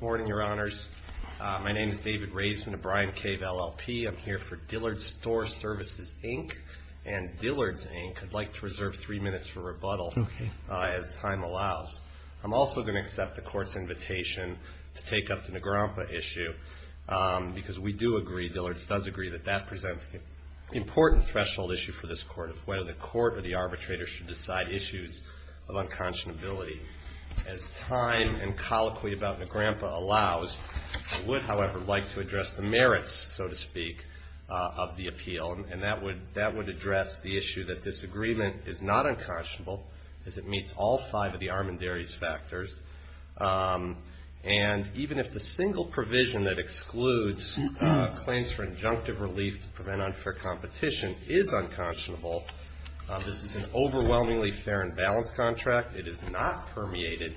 Morning, Your Honors. My name is David Raisman of Bryan Cave, LLP. I'm here for Dillards Store Services, Inc. and Dillards, Inc. I'd like to reserve three minutes for rebuttal as time allows. I'm also going to accept the court's invitation to take up the Negrempa issue because we do agree, Dillards does agree, that that presents the important threshold issue for this court of whether the court or the arbitrator should decide issues of unconscionability. As time and colloquy about Negrempa allows, I would, however, like to address the merits, so to speak, of the appeal, and that would address the issue that disagreement is not unconscionable, as it meets all five of the Armendaris factors. And even if the single provision that excludes claims for injunctive relief to prevent unfair competition is unconscionable, this is an overwhelmingly fair and balanced contract. It is not permeated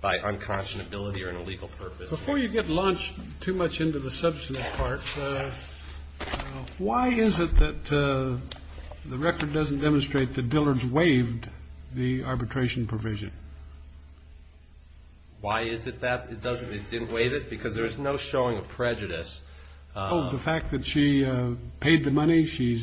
by unconscionability or an illegal purpose. Before you get launched too much into the substantive part, why is it that the record doesn't demonstrate that Dillards waived the arbitration provision? Why is it that it doesn't, it didn't waive it? Because there is no showing of prejudice. Oh, the fact that she paid the money, she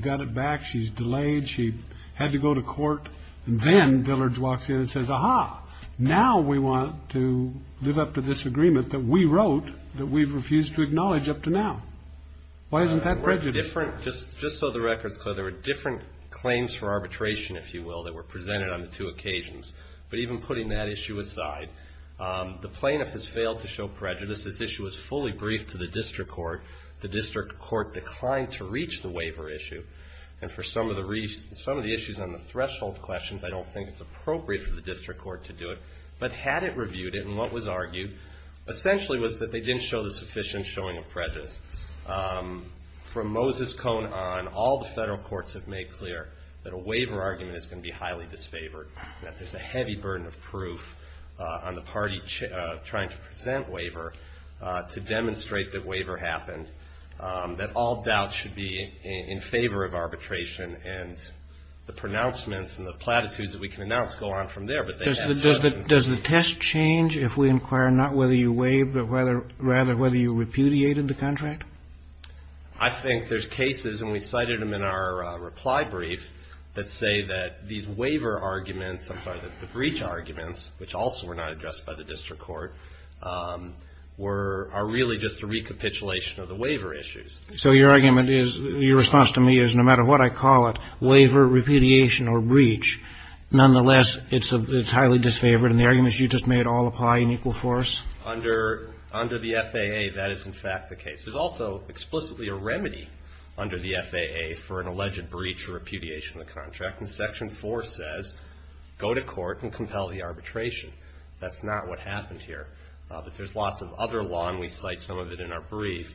got it back, she's delayed, she had to go to court, and then Dillards walks in and says, aha, now we want to live up to this agreement that we wrote that we've refused to acknowledge up to now. Why isn't that prejudice? Just so the record's clear, there were different claims for arbitration, if you will, that were presented on the two occasions. But even putting that issue aside, the plaintiff has failed to show prejudice. This issue was fully briefed to the district court. The district court declined to reach the waiver issue. And for some of the issues on the threshold questions, I don't think it's appropriate for the district court to do it. But had it reviewed it, and what was argued essentially was that they didn't show the sufficient showing of prejudice. From Moses Cohn on, all the Federal courts have made clear that a waiver argument is going to be highly disfavored, that there's a heavy burden of proof on the party trying to present waiver to demonstrate that waiver happened, that all doubt should be in favor of arbitration. And the pronouncements and the platitudes that we can announce go on from there. Does the test change if we inquire not whether you waived, but rather whether you repudiated the contract? I think there's cases, and we cited them in our reply brief, that say that these waiver arguments, I'm sorry, the breach arguments, which also were not addressed by the district court, are really just a recapitulation of the waiver issues. So your argument is, your response to me is, no matter what I call it, waiver, repudiation, or breach, nonetheless, it's highly disfavored. And the argument is you just made all apply in equal force? Under the FAA, that is in fact the case. There's also explicitly a remedy under the FAA for an alleged breach or repudiation of the contract. And Section 4 says, go to court and compel the arbitration. That's not what happened here. But there's lots of other law, and we cite some of it in our brief,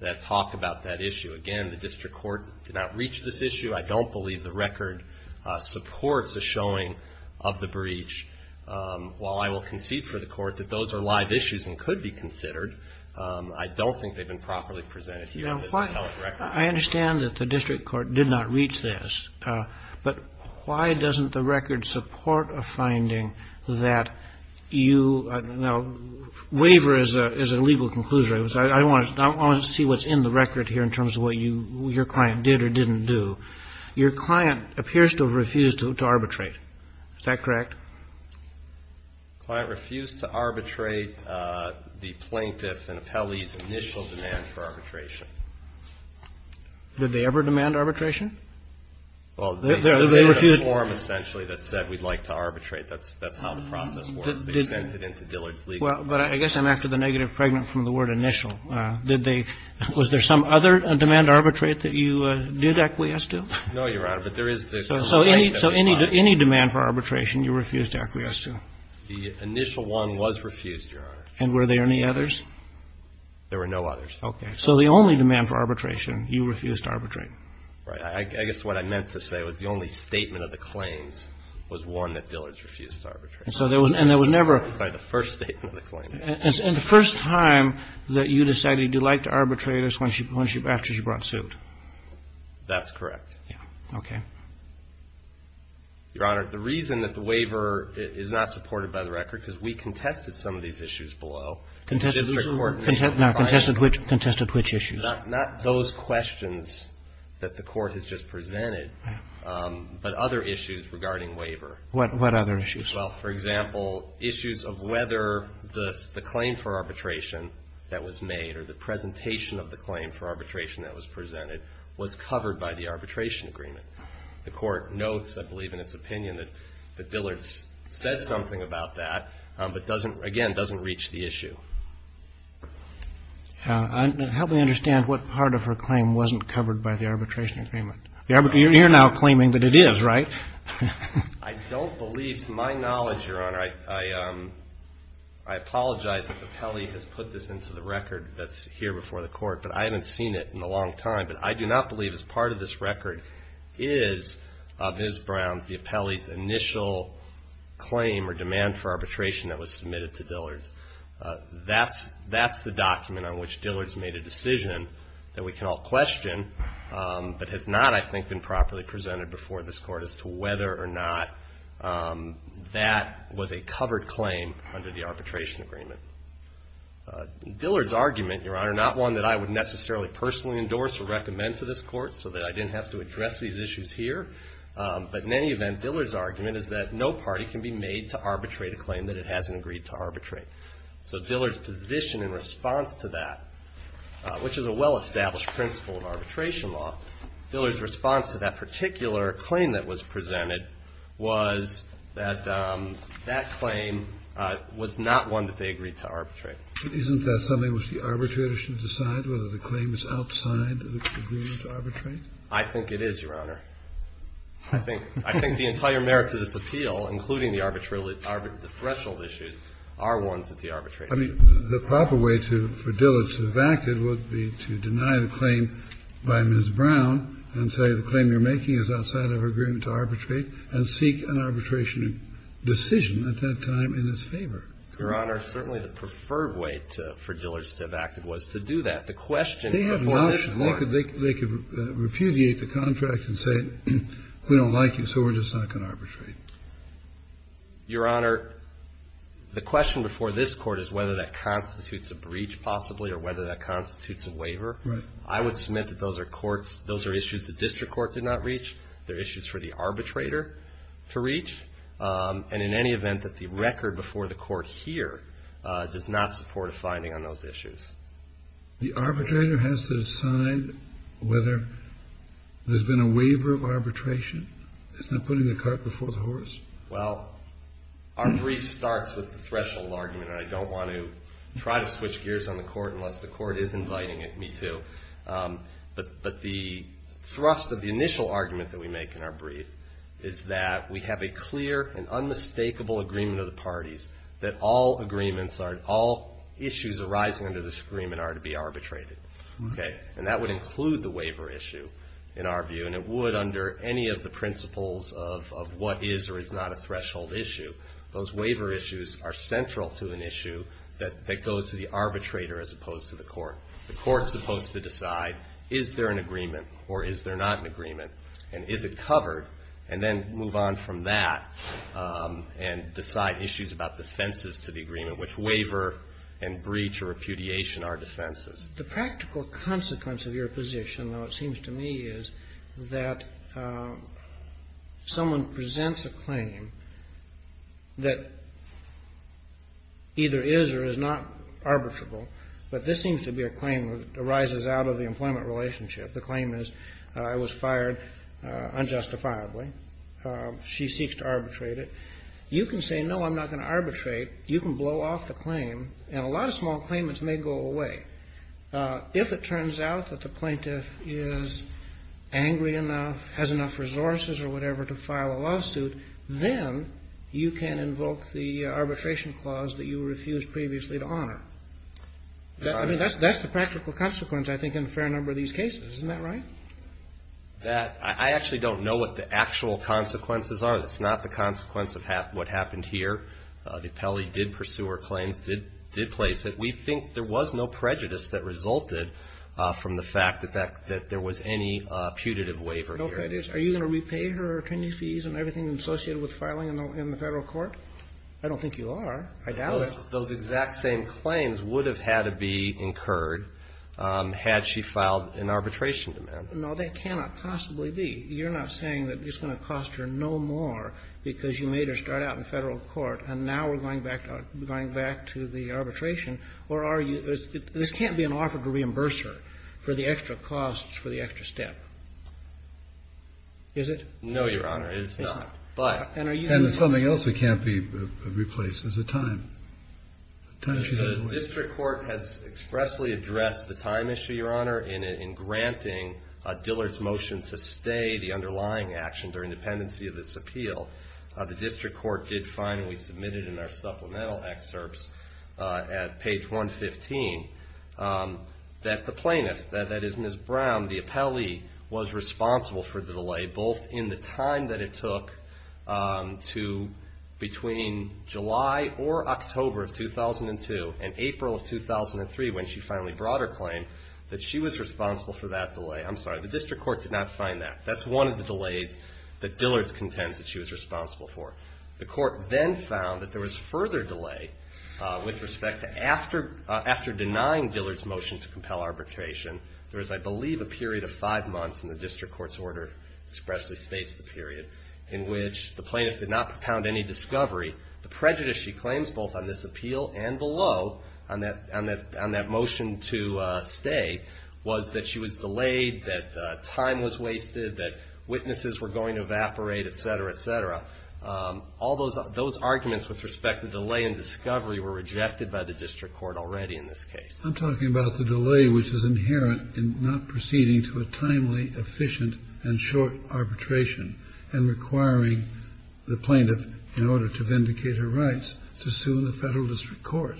that talk about that issue. Again, the district court did not reach this issue. I don't believe the record supports the showing of the breach. While I will concede for the Court that those are live issues and could be considered, I don't think they've been properly presented here. I understand that the district court did not reach this. But why doesn't the record support a finding that you – now, waiver is a legal conclusion. I want to see what's in the record here in terms of what your client did or didn't do. Your client appears to have refused to arbitrate. Is that correct? The client refused to arbitrate the plaintiff and appellee's initial demand for arbitration. Did they ever demand arbitration? Well, they submitted a form essentially that said we'd like to arbitrate. That's how the process works. They sent it in to Dillard's legal firm. Well, but I guess I'm after the negative pregnant from the word initial. Did they – was there some other demand to arbitrate that you did acquiesce to? No, Your Honor, but there is – So any demand for arbitration you refused to acquiesce to? The initial one was refused, Your Honor. And were there any others? There were no others. Okay. So the only demand for arbitration you refused to arbitrate? Right. I guess what I meant to say was the only statement of the claims was one that Dillard's refused to arbitrate. And so there was – and there was never – Sorry, the first statement of the claim. And the first time that you decided you'd like to arbitrate is when she – after she brought suit? That's correct. Yeah. Okay. Your Honor, the reason that the waiver is not supported by the record, because we contested some of these issues below. Contested which? Contested which issues? Not those questions that the Court has just presented, but other issues regarding waiver. What other issues? Well, for example, issues of whether the claim for arbitration that was made or the presentation of the claim for arbitration that was presented was covered by the arbitration agreement. The Court notes, I believe, in its opinion that Dillard said something about that, but doesn't – again, doesn't reach the issue. Help me understand what part of her claim wasn't covered by the arbitration agreement. You're now claiming that it is, right? I don't believe – to my knowledge, Your Honor, I apologize if Apelli has put this into the record that's here before the Court, but I haven't seen it in a long time. But I do not believe as part of this record is of Ms. Brown's, the Apelli's, initial claim or demand for arbitration that was submitted to Dillard's. That's the document on which Dillard's made a decision that we can all question, but has not, I think, been properly presented before this Court as to whether or not that was a covered claim under the arbitration agreement. Dillard's argument, Your Honor, not one that I would necessarily personally endorse or recommend to this Court so that I didn't have to address these issues here, but in any event, Dillard's argument is that no party can be made to arbitrate a claim that it hasn't agreed to arbitrate. So Dillard's position in response to that, which is a well-established principle of arbitration law, Dillard's response to that particular claim that was presented was that that claim was not one that they agreed to arbitrate. Isn't that something which the arbitrator should decide, whether the claim is outside of the agreement to arbitrate? I think the entire merits of this appeal, including the threshold issues, are ones that the arbitrator should decide. I mean, the proper way for Dillard's to have acted would be to deny the claim by Ms. Brown and say the claim you're making is outside of her agreement to arbitrate and seek an arbitration decision at that time in his favor. Your Honor, certainly the preferred way for Dillard's to have acted was to do that. The question before this Court. They could repudiate the contract and say we don't like you, so we're just not going to arbitrate. Your Honor, the question before this Court is whether that constitutes a breach, possibly, or whether that constitutes a waiver. Right. I would submit that those are courts, those are issues the district court did not reach. They're issues for the arbitrator to reach. And in any event, that the record before the Court here does not support a finding on those issues. The arbitrator has to decide whether there's been a waiver of arbitration. It's not putting the cart before the horse. Well, our brief starts with the threshold argument. I don't want to try to switch gears on the Court unless the Court is inviting me to. But the thrust of the initial argument that we make in our brief is that we have a clear and unmistakable agreement of the parties that all issues arising under this agreement are to be arbitrated. And that would include the waiver issue, in our view. And it would under any of the principles of what is or is not a threshold issue. Those waiver issues are central to an issue that goes to the arbitrator as opposed to the Court. The Court's supposed to decide is there an agreement or is there not an agreement, and is it covered, and then move on from that and decide issues about defenses to the agreement, which waiver and breach or repudiation are defenses. The practical consequence of your position, though, it seems to me, is that someone presents a claim that either is or is not arbitrable, but this seems to be a claim that arises out of the employment relationship. The claim is I was fired unjustifiably. She seeks to arbitrate it. You can say, no, I'm not going to arbitrate. You can blow off the claim, and a lot of small claimants may go away. If it turns out that the plaintiff is angry enough, has enough resources or whatever to file a lawsuit, then you can invoke the arbitration clause that you refused previously to honor. I mean, that's the practical consequence, I think, in a fair number of these cases. Isn't that right? I actually don't know what the actual consequences are. That's not the consequence of what happened here. The appellee did pursue her claims, did place it. We think there was no prejudice that resulted from the fact that there was any putative waiver here. No prejudice? Are you going to repay her attorney fees and everything associated with filing in the Federal Court? I don't think you are. I doubt it. Those exact same claims would have had to be incurred had she filed an arbitration demand. No, they cannot possibly be. You're not saying that it's going to cost her no more because you made her start out in the Federal Court and now we're going back to the arbitration. Or are you – this can't be an offer to reimburse her for the extra costs, for the extra step. Is it? No, Your Honor, it is not. It's not. The District Court has expressly addressed the time issue, Your Honor, in granting Dillard's motion to stay the underlying action during the pendency of this appeal. The District Court did find, and we submitted in our supplemental excerpts at page 115, that the plaintiff, that is Ms. Brown, the appellee, was responsible for the delay, both in the time that it took to between July or October of 2002 and April of 2003 when she finally brought her claim, that she was responsible for that delay. I'm sorry, the District Court did not find that. That's one of the delays that Dillard's contends that she was responsible for. The Court then found that there was further delay with respect to after denying Dillard's motion to compel arbitration, there was, I believe, a period of five months, and the District Court's order expressly states the period, in which the plaintiff did not propound any discovery. The prejudice she claims both on this appeal and below on that motion to stay was that she was delayed, that time was wasted, that witnesses were going to evaporate, et cetera, et cetera. All those arguments with respect to delay and discovery were rejected by the District Court already in this case. I'm talking about the delay which is inherent in not proceeding to a timely, efficient, and short arbitration and requiring the plaintiff, in order to vindicate her rights, to sue in the Federal District Court.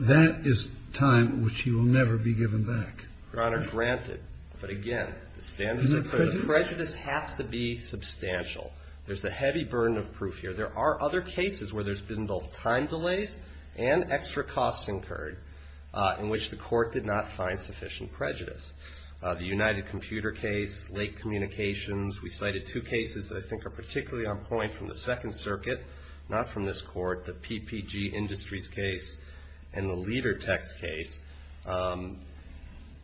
That is time which she will never be given back. Your Honor, granted. But, again, the standard of prejudice has to be substantial. There's a heavy burden of proof here. There are other cases where there's been both time delays and extra costs incurred, in which the court did not find sufficient prejudice. The United Computer case, late communications, we cited two cases that I think are particularly on point from the Second Circuit, not from this court, the PPG Industries case and the Ledertex case.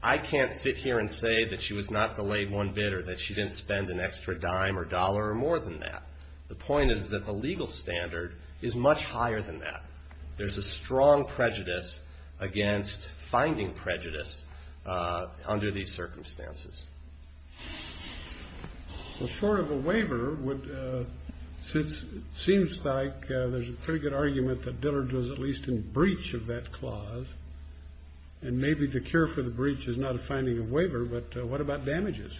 I can't sit here and say that she was not delayed one bit or that she didn't spend an extra dime or dollar or more than that. The point is that the legal standard is much higher than that. There's a strong prejudice against finding prejudice under these circumstances. Well, short of a waiver, it seems like there's a pretty good argument that Dillard was at least in breach of that clause, and maybe the cure for the breach is not a finding of waiver, but what about damages?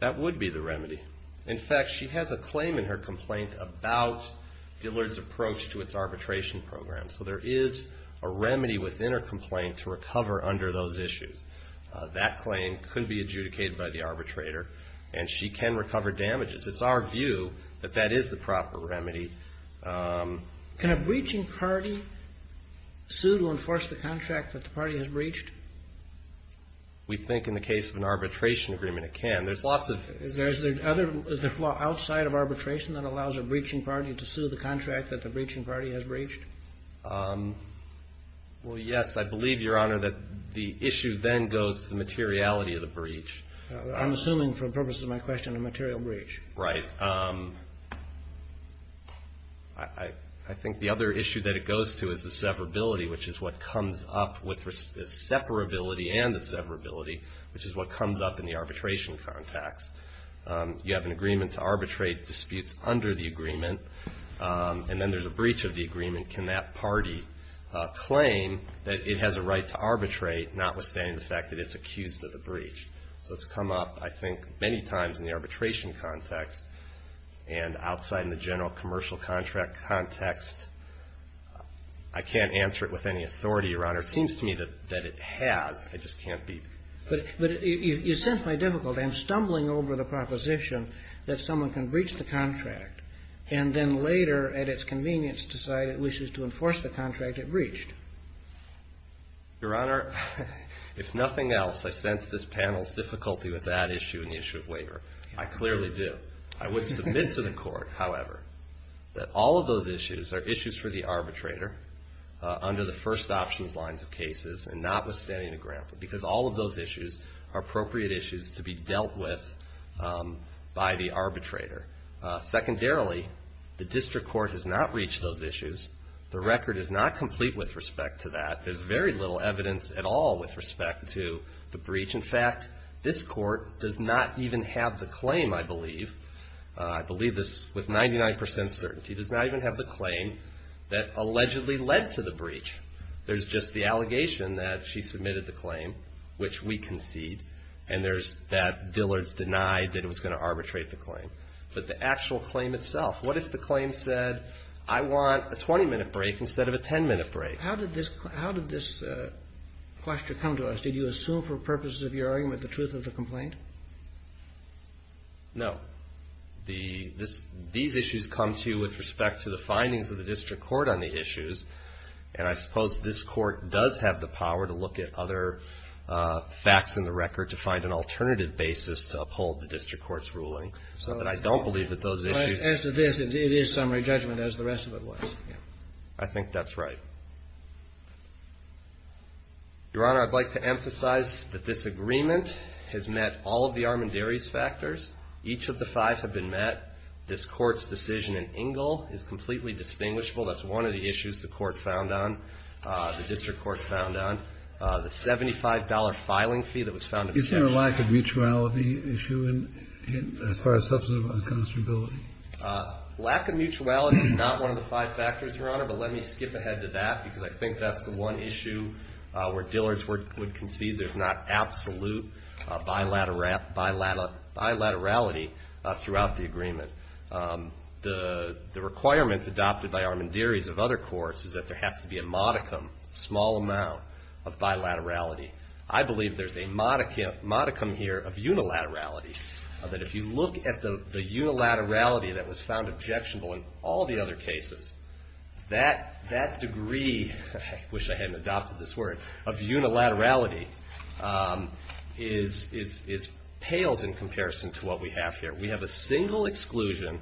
That would be the remedy. In fact, she has a claim in her complaint about Dillard's approach to its arbitration program. So there is a remedy within her complaint to recover under those issues. That claim could be adjudicated by the arbitrator, and she can recover damages. It's our view that that is the proper remedy. Can a breaching party sue to enforce the contract that the party has breached? We think in the case of an arbitration agreement it can. Is there a law outside of arbitration that allows a breaching party to sue the contract that the breaching party has breached? Well, yes. I believe, Your Honor, that the issue then goes to the materiality of the breach. I'm assuming, for the purposes of my question, a material breach. Right. I think the other issue that it goes to is the severability, which is what comes up with the separability and the severability, which is what comes up in the arbitration context. You have an agreement to arbitrate disputes under the agreement, and then there's a breach of the agreement. Can that party claim that it has a right to arbitrate, notwithstanding the fact that it's accused of the breach? So it's come up, I think, many times in the arbitration context and outside in the general commercial contract context. Where it seems to me that it has, it just can't be. But you sense my difficulty. I'm stumbling over the proposition that someone can breach the contract and then later, at its convenience, decide it wishes to enforce the contract it breached. Your Honor, if nothing else, I sense this panel's difficulty with that issue and the issue of waiver. I clearly do. I would submit to the Court, however, that all of those issues are issues for the arbitrator under the first options lines of cases and notwithstanding the grant. Because all of those issues are appropriate issues to be dealt with by the arbitrator. Secondarily, the district court has not reached those issues. The record is not complete with respect to that. There's very little evidence at all with respect to the breach. In fact, this Court does not even have the claim, I believe, I believe this with 99 percent certainty, does not even have the claim that allegedly led to the breach. There's just the allegation that she submitted the claim, which we concede, and there's that Dillard's denied that it was going to arbitrate the claim. But the actual claim itself, what if the claim said, I want a 20-minute break instead of a 10-minute break? How did this question come to us? Did you assume for purposes of your argument the truth of the complaint? No. These issues come to you with respect to the findings of the district court on the issues. And I suppose this Court does have the power to look at other facts in the record to find an alternative basis to uphold the district court's ruling. So that I don't believe that those issues. As to this, it is summary judgment as the rest of it was. I think that's right. Your Honor, I'd like to emphasize that this agreement has met all of the Armendaris factors. Each of the five have been met. This Court's decision in Ingle is completely distinguishable. That's one of the issues the Court found on, the district court found on. The $75 filing fee that was found in the case. Is there a lack of mutuality issue as far as substantive unconscionability? Lack of mutuality is not one of the five factors, Your Honor. But let me skip ahead to that, because I think that's the one issue where Dillard's would concede there's not absolute bilaterality throughout the agreement. The requirement adopted by Armendaris of other courts is that there has to be a modicum, a small amount of bilaterality. I believe there's a modicum here of unilaterality. That if you look at the unilaterality that was found objectionable in all the other cases, that degree, I wish I hadn't adopted this word, of unilaterality, pales in comparison to what we have here. We have a single exclusion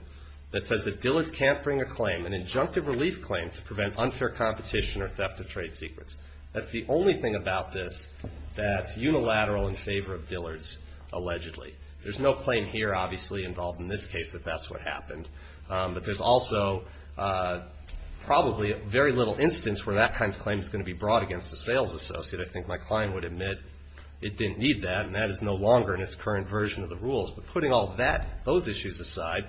that says that Dillard's can't bring a claim, an injunctive relief claim to prevent unfair competition or theft of trade secrets. That's the only thing about this that's unilateral in favor of Dillard's, allegedly. There's no claim here, obviously, involved in this case that that's what happened. But there's also probably very little instance where that kind of claim is going to be brought against the sales associate. I think my client would admit it didn't need that, and that is no longer in its current version of the rules. But putting all that, those issues aside,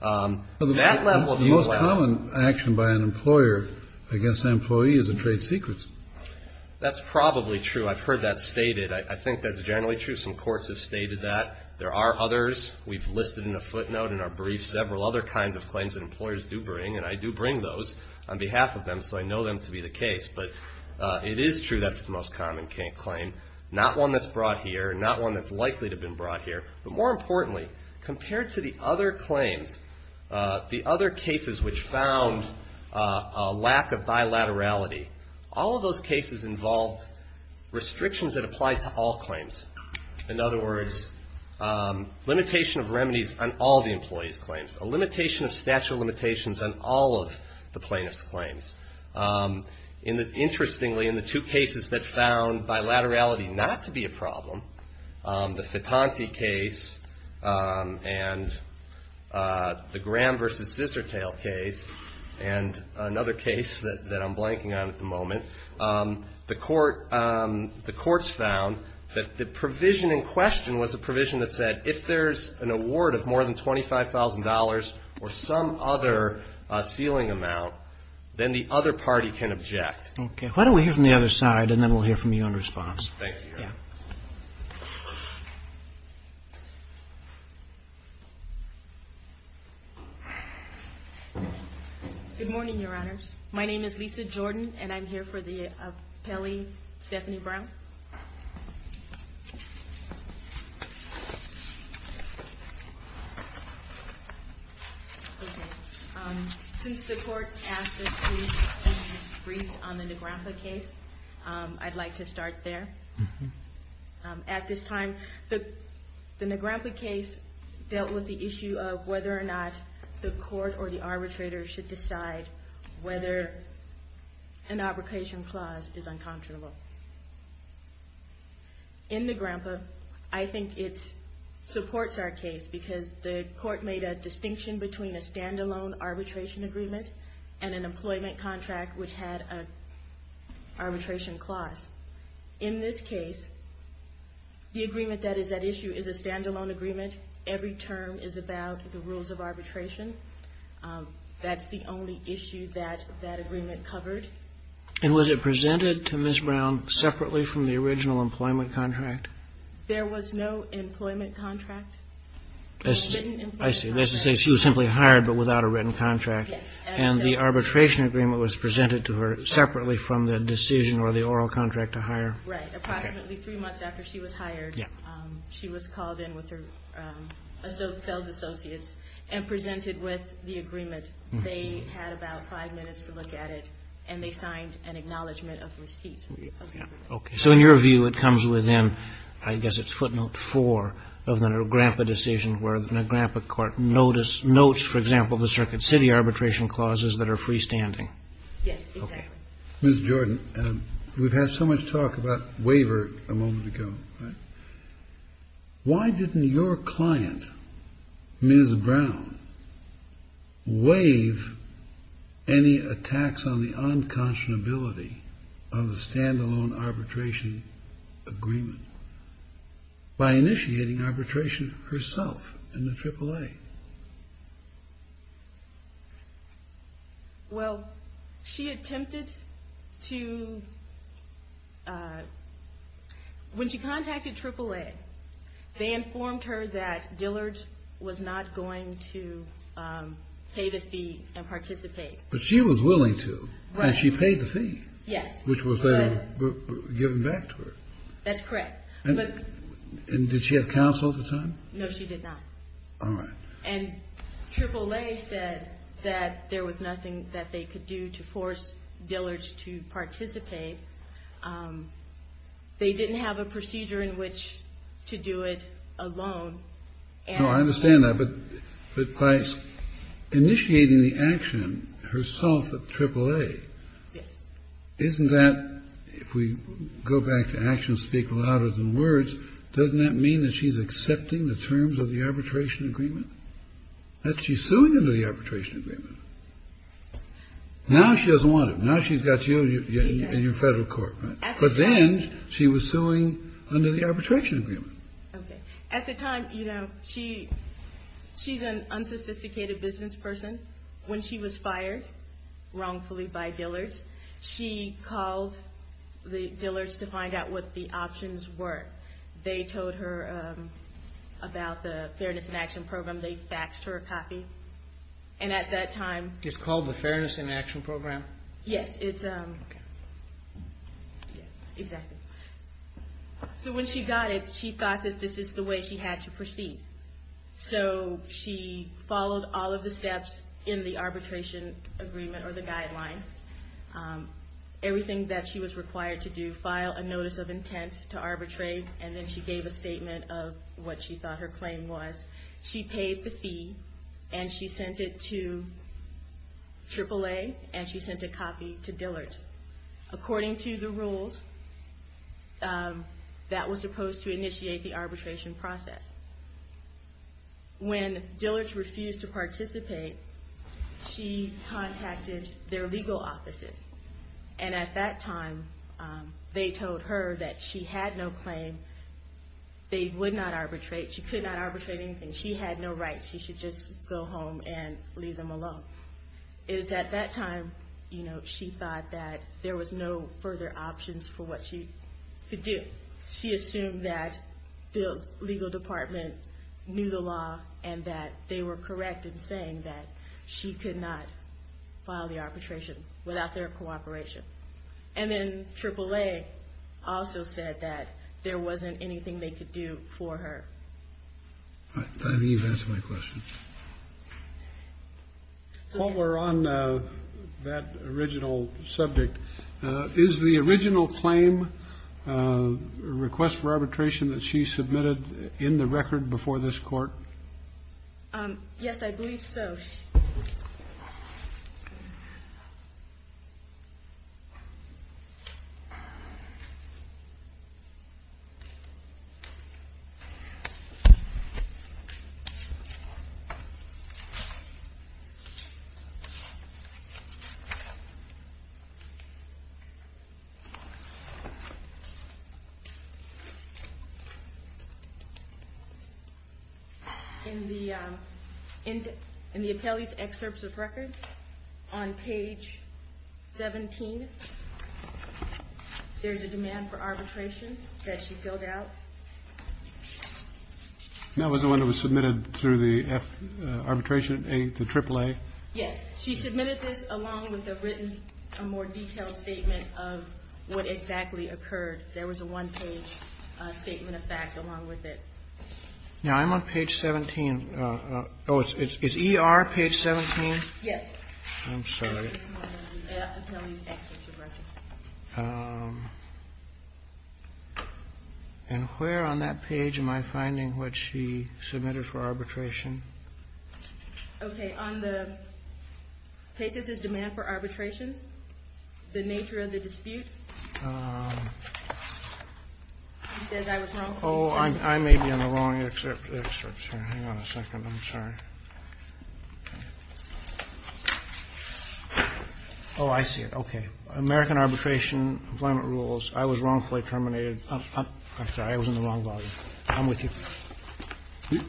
that level of unilaterality. The most common action by an employer against an employee is a trade secret. That's probably true. I've heard that stated. I think that's generally true. Some courts have stated that. There are others. We've listed in a footnote in our brief several other kinds of claims that employers do bring, and I do bring those on behalf of them so I know them to be the case. But it is true that's the most common claim, not one that's brought here, not one that's likely to have been brought here. But more importantly, compared to the other claims, the other cases which found a lack of bilaterality, all of those cases involved restrictions that applied to all claims. In other words, limitation of remedies on all the employee's claims, a limitation of statute of limitations on all of the plaintiff's claims. Interestingly, in the two cases that found bilaterality not to be a problem, the Fitanti case and the Graham v. Zissertail case, and another case that I'm blanking on at the moment, the courts found that the provision in question was a provision that said, if there's an award of more than $25,000 or some other ceiling amount, then the other party can object. Okay. Why don't we hear from the other side, and then we'll hear from you in response. Thank you. Yeah. Good morning, Your Honors. My name is Lisa Jordan, and I'm here for the appellee, Stephanie Brown. Okay. Since the court asked us to be briefed on the Negraffa case, I'd like to start there. At this time, the Negraffa case dealt with the issue of whether or not the court or the arbitrator should decide whether an arbitration clause is unconscionable. In Negraffa, I think it supports our case because the court made a distinction between a stand-alone arbitration agreement and an employment contract which had an arbitration clause. In this case, the agreement that is at issue is a stand-alone agreement. Every term is about the rules of arbitration. That's the only issue that that agreement covered. And was it presented to Ms. Brown separately from the original employment contract? There was no employment contract. I see. That's to say she was simply hired but without a written contract. Yes. And the arbitration agreement was presented to her separately from the decision or the oral contract to hire? Right. Approximately three months after she was hired, she was called in with her sales associates and presented with the agreement. They had about five minutes to look at it, and they signed an acknowledgment of receipt of the agreement. Okay. So in your view, it comes within, I guess it's footnote four of the Negraffa decision where the Negraffa court notes, for example, the Circuit City arbitration clauses that are freestanding. Yes, exactly. Ms. Jordan, we've had so much talk about waiver a moment ago. Why didn't your client, Ms. Brown, waive any attacks on the unconscionability of the stand-alone arbitration agreement by initiating arbitration herself in the AAA? Well, she attempted to... When she contacted AAA, they informed her that Dillard was not going to pay the fee and participate. But she was willing to, and she paid the fee. Yes. Which was then given back to her. That's correct. And did she have counsel at the time? No, she did not. All right. And AAA said that there was nothing that they could do to force Dillard to participate. They didn't have a procedure in which to do it alone. No, I understand that. But by initiating the action herself at AAA, isn't that, if we go back to actions speak louder than words, doesn't that mean that she's accepting the terms of the arbitration agreement? That she's suing under the arbitration agreement. Now she doesn't want it. Now she's got you in your federal court. But then she was suing under the arbitration agreement. Okay. At the time, you know, she's an unsophisticated business person. When she was fired wrongfully by Dillard, she called the Dillards to find out what the options were. They told her about the Fairness in Action Program. They faxed her a copy. And at that time... It's called the Fairness in Action Program? Yes, it's... Okay. Yes, exactly. So when she got it, she thought that this is the way she had to proceed. So she followed all of the steps in the arbitration agreement or the guidelines. Everything that she was required to do, file a notice of intent to arbitrate. And then she gave a statement of what she thought her claim was. She paid the fee. And she sent it to AAA. And she sent a copy to Dillards. According to the rules, that was supposed to initiate the arbitration process. When Dillards refused to participate, she contacted their legal offices. And at that time, they told her that she had no claim. They would not arbitrate. She could not arbitrate anything. She had no rights. She should just go home and leave them alone. At that time, she thought that there was no further options for what she could do. She assumed that the legal department knew the law and that they were correct in saying that she could not file the arbitration without their cooperation. And then AAA also said that there wasn't anything they could do for her. I believe that's my question. While we're on that original subject, is the original claim request for arbitration that she submitted in the record before this court? Yes, I believe so. In the Apelli's excerpts of record, on page 17, there's a demand for arbitration that she filled out. That was the one that was submitted through the arbitration, the AAA? Yes. She submitted this along with a written, a more detailed statement of what exactly occurred. There was a one-page statement of facts along with it. Now, I'm on page 17. Oh, it's ER, page 17? Yes. I'm sorry. And where on that page am I finding what she submitted for arbitration? Okay. On the pages, there's demand for arbitration, the nature of the dispute. He says I was wrong. Oh, I may be on the wrong excerpts here. Hang on a second. I'm sorry. Oh, I see it. Okay. American Arbitration Employment Rules. I was wrongfully terminated. I'm sorry. I was in the wrong volume. I'm with you.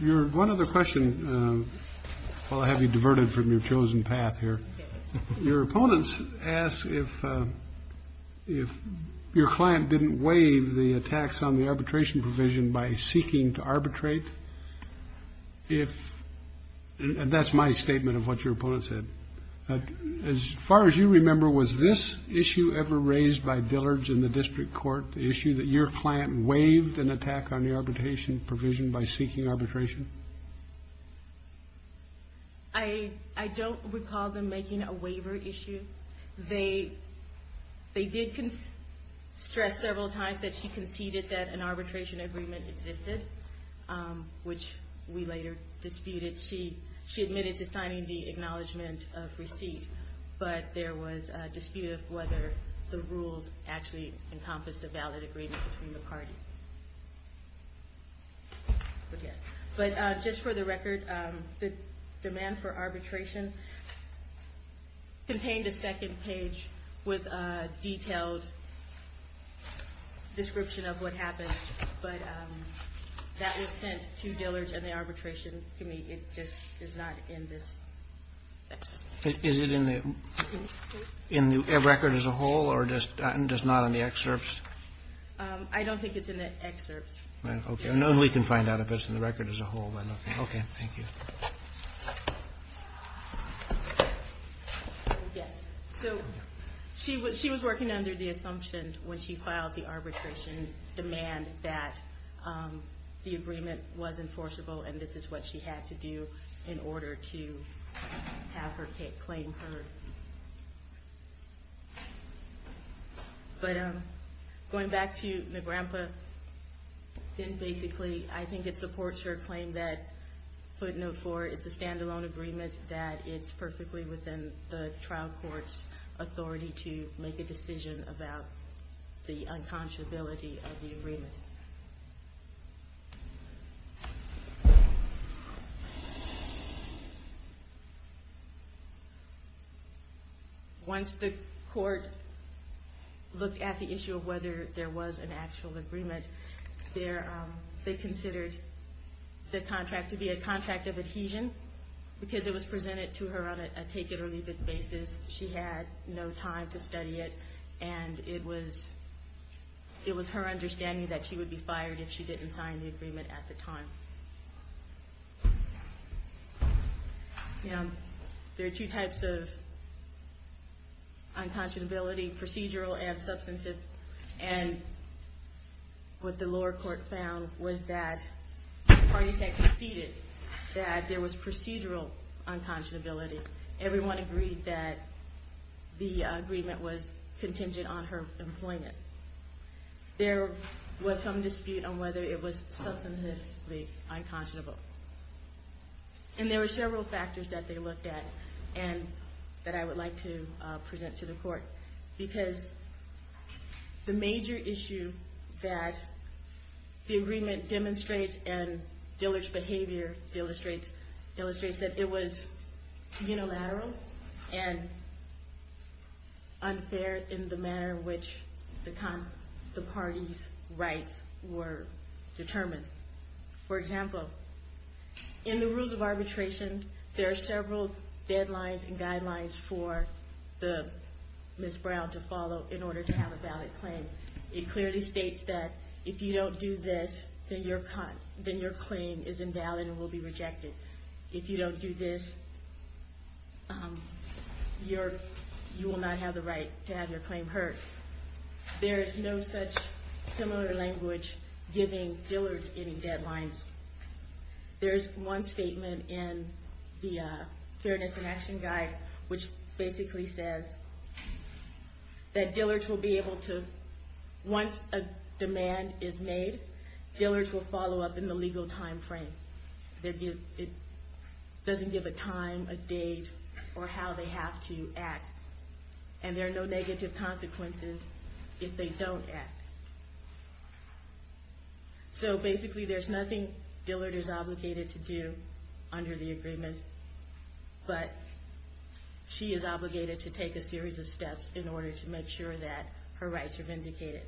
Your one other question, while I have you diverted from your chosen path here. Your opponents ask if your client didn't waive the tax on the arbitration provision by seeking to arbitrate. And that's my statement of what your opponent said. As far as you remember, was this issue ever raised by Dillard's in the district court, the issue that your client waived an attack on the arbitration provision by seeking arbitration? I don't recall them making a waiver issue. They did stress several times that she conceded that an arbitration agreement existed, which we later disputed. She admitted to signing the acknowledgment of receipt, but there was a dispute of whether the rules actually encompassed a valid agreement between the parties. But, yes. But just for the record, the demand for arbitration contained a second page with a detailed description of what happened. But that was sent to Dillard's and the arbitration committee. It just is not in this section. Is it in the record as a whole or just not in the excerpts? I don't think it's in the excerpts. Okay. I know we can find out if it's in the record as a whole. Okay. Thank you. Yes. So she was working under the assumption when she filed the arbitration demand that the agreement was enforceable and this is what she had to do in order to have her claim heard. But going back to the grandpa, then basically I think it supports her claim that footnote four, it's a standalone agreement that it's perfectly within the trial court's authority to make a decision about the unconscionability of the agreement. Once the court looked at the issue of whether there was an actual agreement, they considered the contract to be a contract of adhesion because it was presented to her on a take-it-or-leave-it basis. She had no time to study it and it was her understanding that she would be fired if she didn't sign the agreement at the time. There are two types of unconscionability, procedural and substantive. And what the lower court found was that parties had conceded that there was procedural unconscionability. Everyone agreed that the agreement was contingent on her employment. There was some dispute on whether it was substantively unconscionable. And there were several factors that they looked at and that I would like to present to the court because the major issue that the agreement demonstrates and Dillard's behavior illustrates is that it was unilateral and unfair in the manner in which the parties' rights were determined. For example, in the rules of arbitration, there are several deadlines and guidelines for Ms. Brown to follow in order to have a valid claim. It clearly states that if you don't do this, then your claim is invalid and will be rejected. If you don't do this, you will not have the right to have your claim heard. There is no such similar language giving Dillard's any deadlines. There is one statement in the Fairness and Action Guide which basically says that Dillard's will be able to, once a demand is made, Dillard's will follow up in the legal time frame. It doesn't give a time, a date, or how they have to act. And there are no negative consequences if they don't act. So basically there's nothing Dillard is obligated to do under the agreement, but she is obligated to take a series of steps in order to make sure that her rights are vindicated.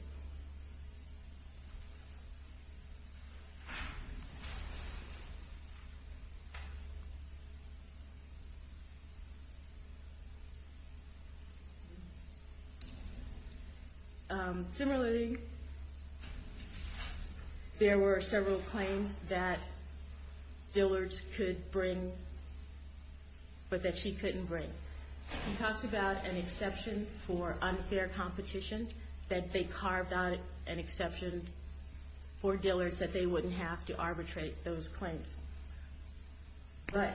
Similarly, there were several claims that Dillard's could bring, but that she couldn't bring. She talks about an exception for unfair competition, that they carved out an exception for Dillard's that they wouldn't have to arbitrate those claims. But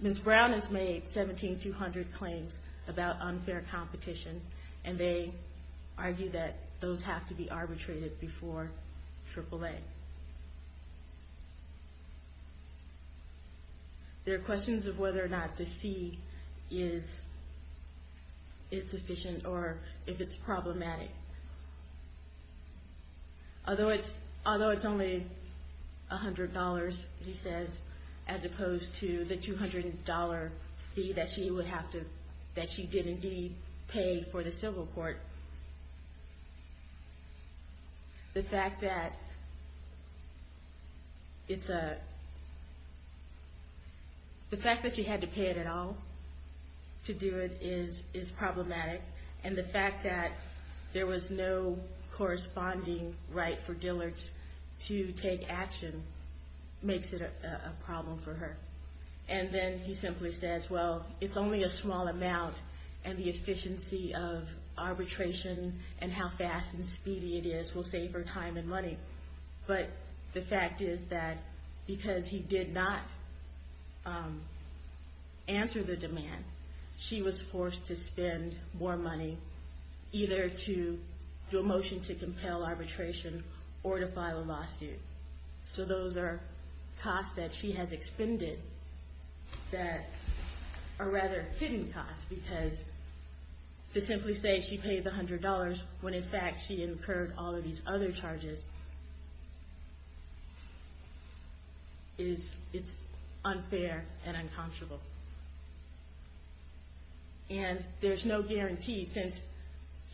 Ms. Brown has made 1,700 claims about unfair competition, and they argue that those have to be arbitrated before AAA. There are questions of whether or not the fee is sufficient or if it's problematic. Although it's only $100, he says, as opposed to the $200 fee that she did indeed pay for the civil court, the fact that she had to pay it at all to do it is problematic. And the fact that there was no corresponding right for Dillard's to take action makes it a problem for her. And then he simply says, well, it's only a small amount, and the efficiency of arbitration and how fast and speedy it is will save her time and money. But the fact is that because he did not answer the demand, she was forced to spend more money either to do a motion to compel arbitration or to file a lawsuit. So those are costs that she has expended that are rather hidden costs because to simply say she paid the $100 when in fact she incurred all of these other charges is unfair and uncomfortable. And there's no guarantee since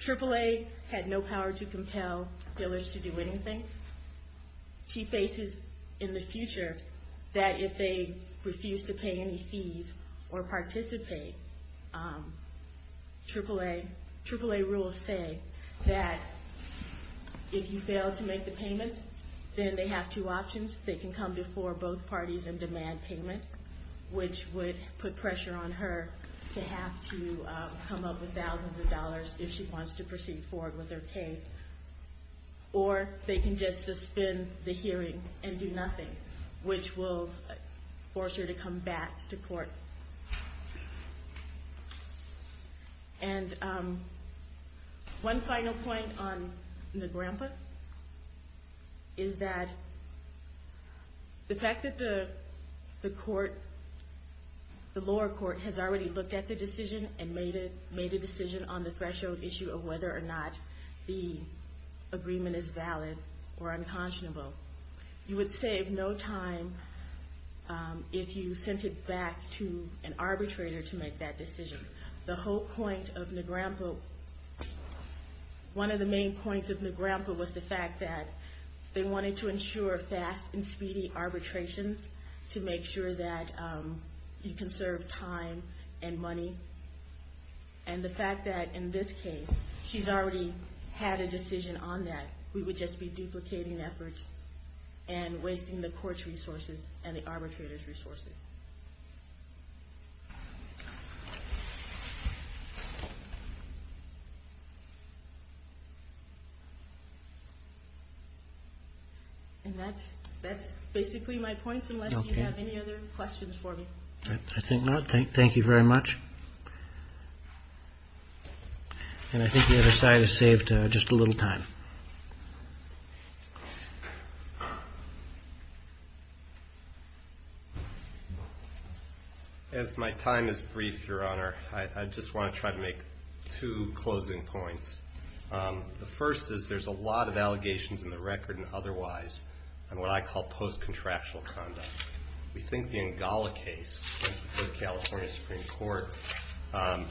AAA had no power to compel Dillard's to do anything. She faces in the future that if they refuse to pay any fees or participate, AAA rules say that if you fail to make the payment, then they have two options. They can come before both parties and demand payment, which would put pressure on her to have to come up with thousands of dollars if she wants to proceed forward with her case. Or they can just suspend the hearing and do nothing, which will force her to come back to court. And one final point on the grandpa is that the fact that the lower court has already looked at the decision and made a decision on the threshold issue of whether or not the agreement is valid or unconscionable, you would save no time if you sent it back to an arbitrator to make that decision. The whole point of the grandpa, one of the main points of the grandpa was the fact that they wanted to ensure fast and speedy arbitrations to make sure that you can serve time and money. And the fact that in this case, she's already had a decision on that. We would just be duplicating efforts and wasting the court's resources and the arbitrator's resources. And that's basically my point, unless you have any other questions for me. I think not. Thank you very much. And I think the other side has saved just a little time. As my time is brief, Your Honor, I just want to try to make two closing points. The first is there's a lot of allegations in the record and otherwise on what I call post-contractual conduct. We think the Angola case before the California Supreme Court and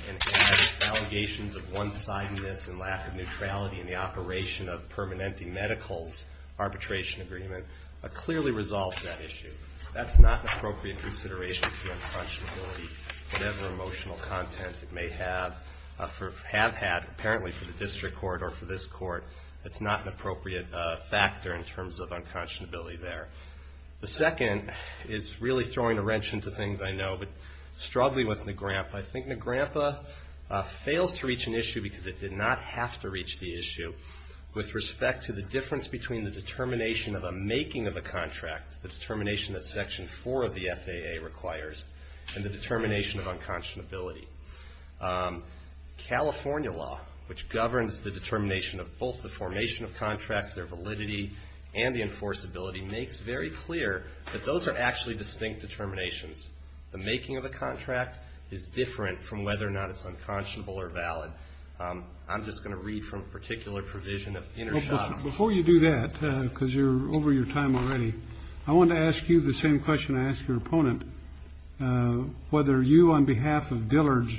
allegations of one-sidedness and lack of neutrality in the operation of Permanente Medical's arbitration agreement clearly resolves that issue. That's not an appropriate consideration for unconscionability. Whatever emotional content it may have had, apparently for the district court or for this court, that's not an appropriate factor in terms of unconscionability there. The second is really throwing a wrench into things I know, but struggling with NAGRAMPA. I think NAGRAMPA fails to reach an issue because it did not have to reach the issue with respect to the difference between the determination of a making of a contract, the determination that Section 4 of the FAA requires, and the determination of unconscionability. California law, which governs the determination of both the formation of contracts, their validity, and the enforceability, makes very clear that those are actually distinct determinations. The making of a contract is different from whether or not it's unconscionable or valid. I'm just going to read from a particular provision of Intershop. Before you do that, because you're over your time already, I want to ask you the same question I asked your opponent, whether you, on behalf of Dillard's,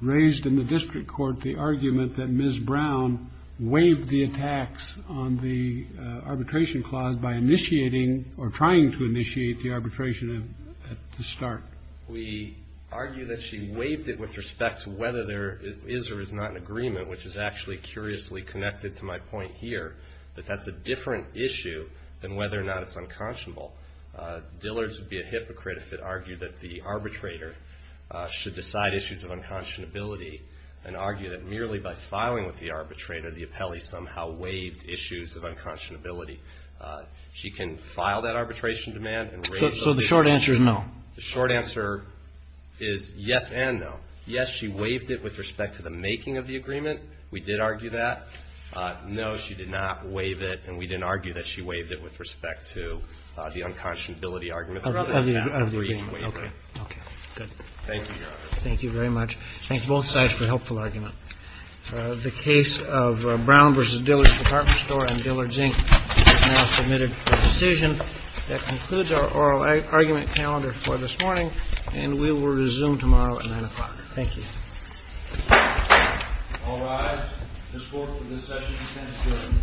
raised in the district court the argument that Ms. Brown waived the attacks on the arbitration clause by initiating or trying to initiate the arbitration at the start. We argue that she waived it with respect to whether there is or is not an agreement, which is actually curiously connected to my point here, that that's a different issue than whether or not it's unconscionable. Dillard's would be a hypocrite if it argued that the arbitrator should decide issues of unconscionability and argue that merely by filing with the arbitrator, the appellee somehow waived issues of unconscionability. She can file that arbitration demand and raise those issues. So the short answer is no? The short answer is yes and no. Yes, she waived it with respect to the making of the agreement. We did argue that. No, she did not waive it, and we didn't argue that she waived it with respect to the unconscionability argument. Okay. Okay. Good. Thank you, Your Honor. Thank you very much. Thank you both sides for a helpful argument. The case of Brown v. Dillard's Department Store and Dillard's Inc. is now submitted for decision. That concludes our oral argument calendar for this morning, and we will resume tomorrow at 9 o'clock. Thank you. All rise. This court for this session is adjourned. Thank you.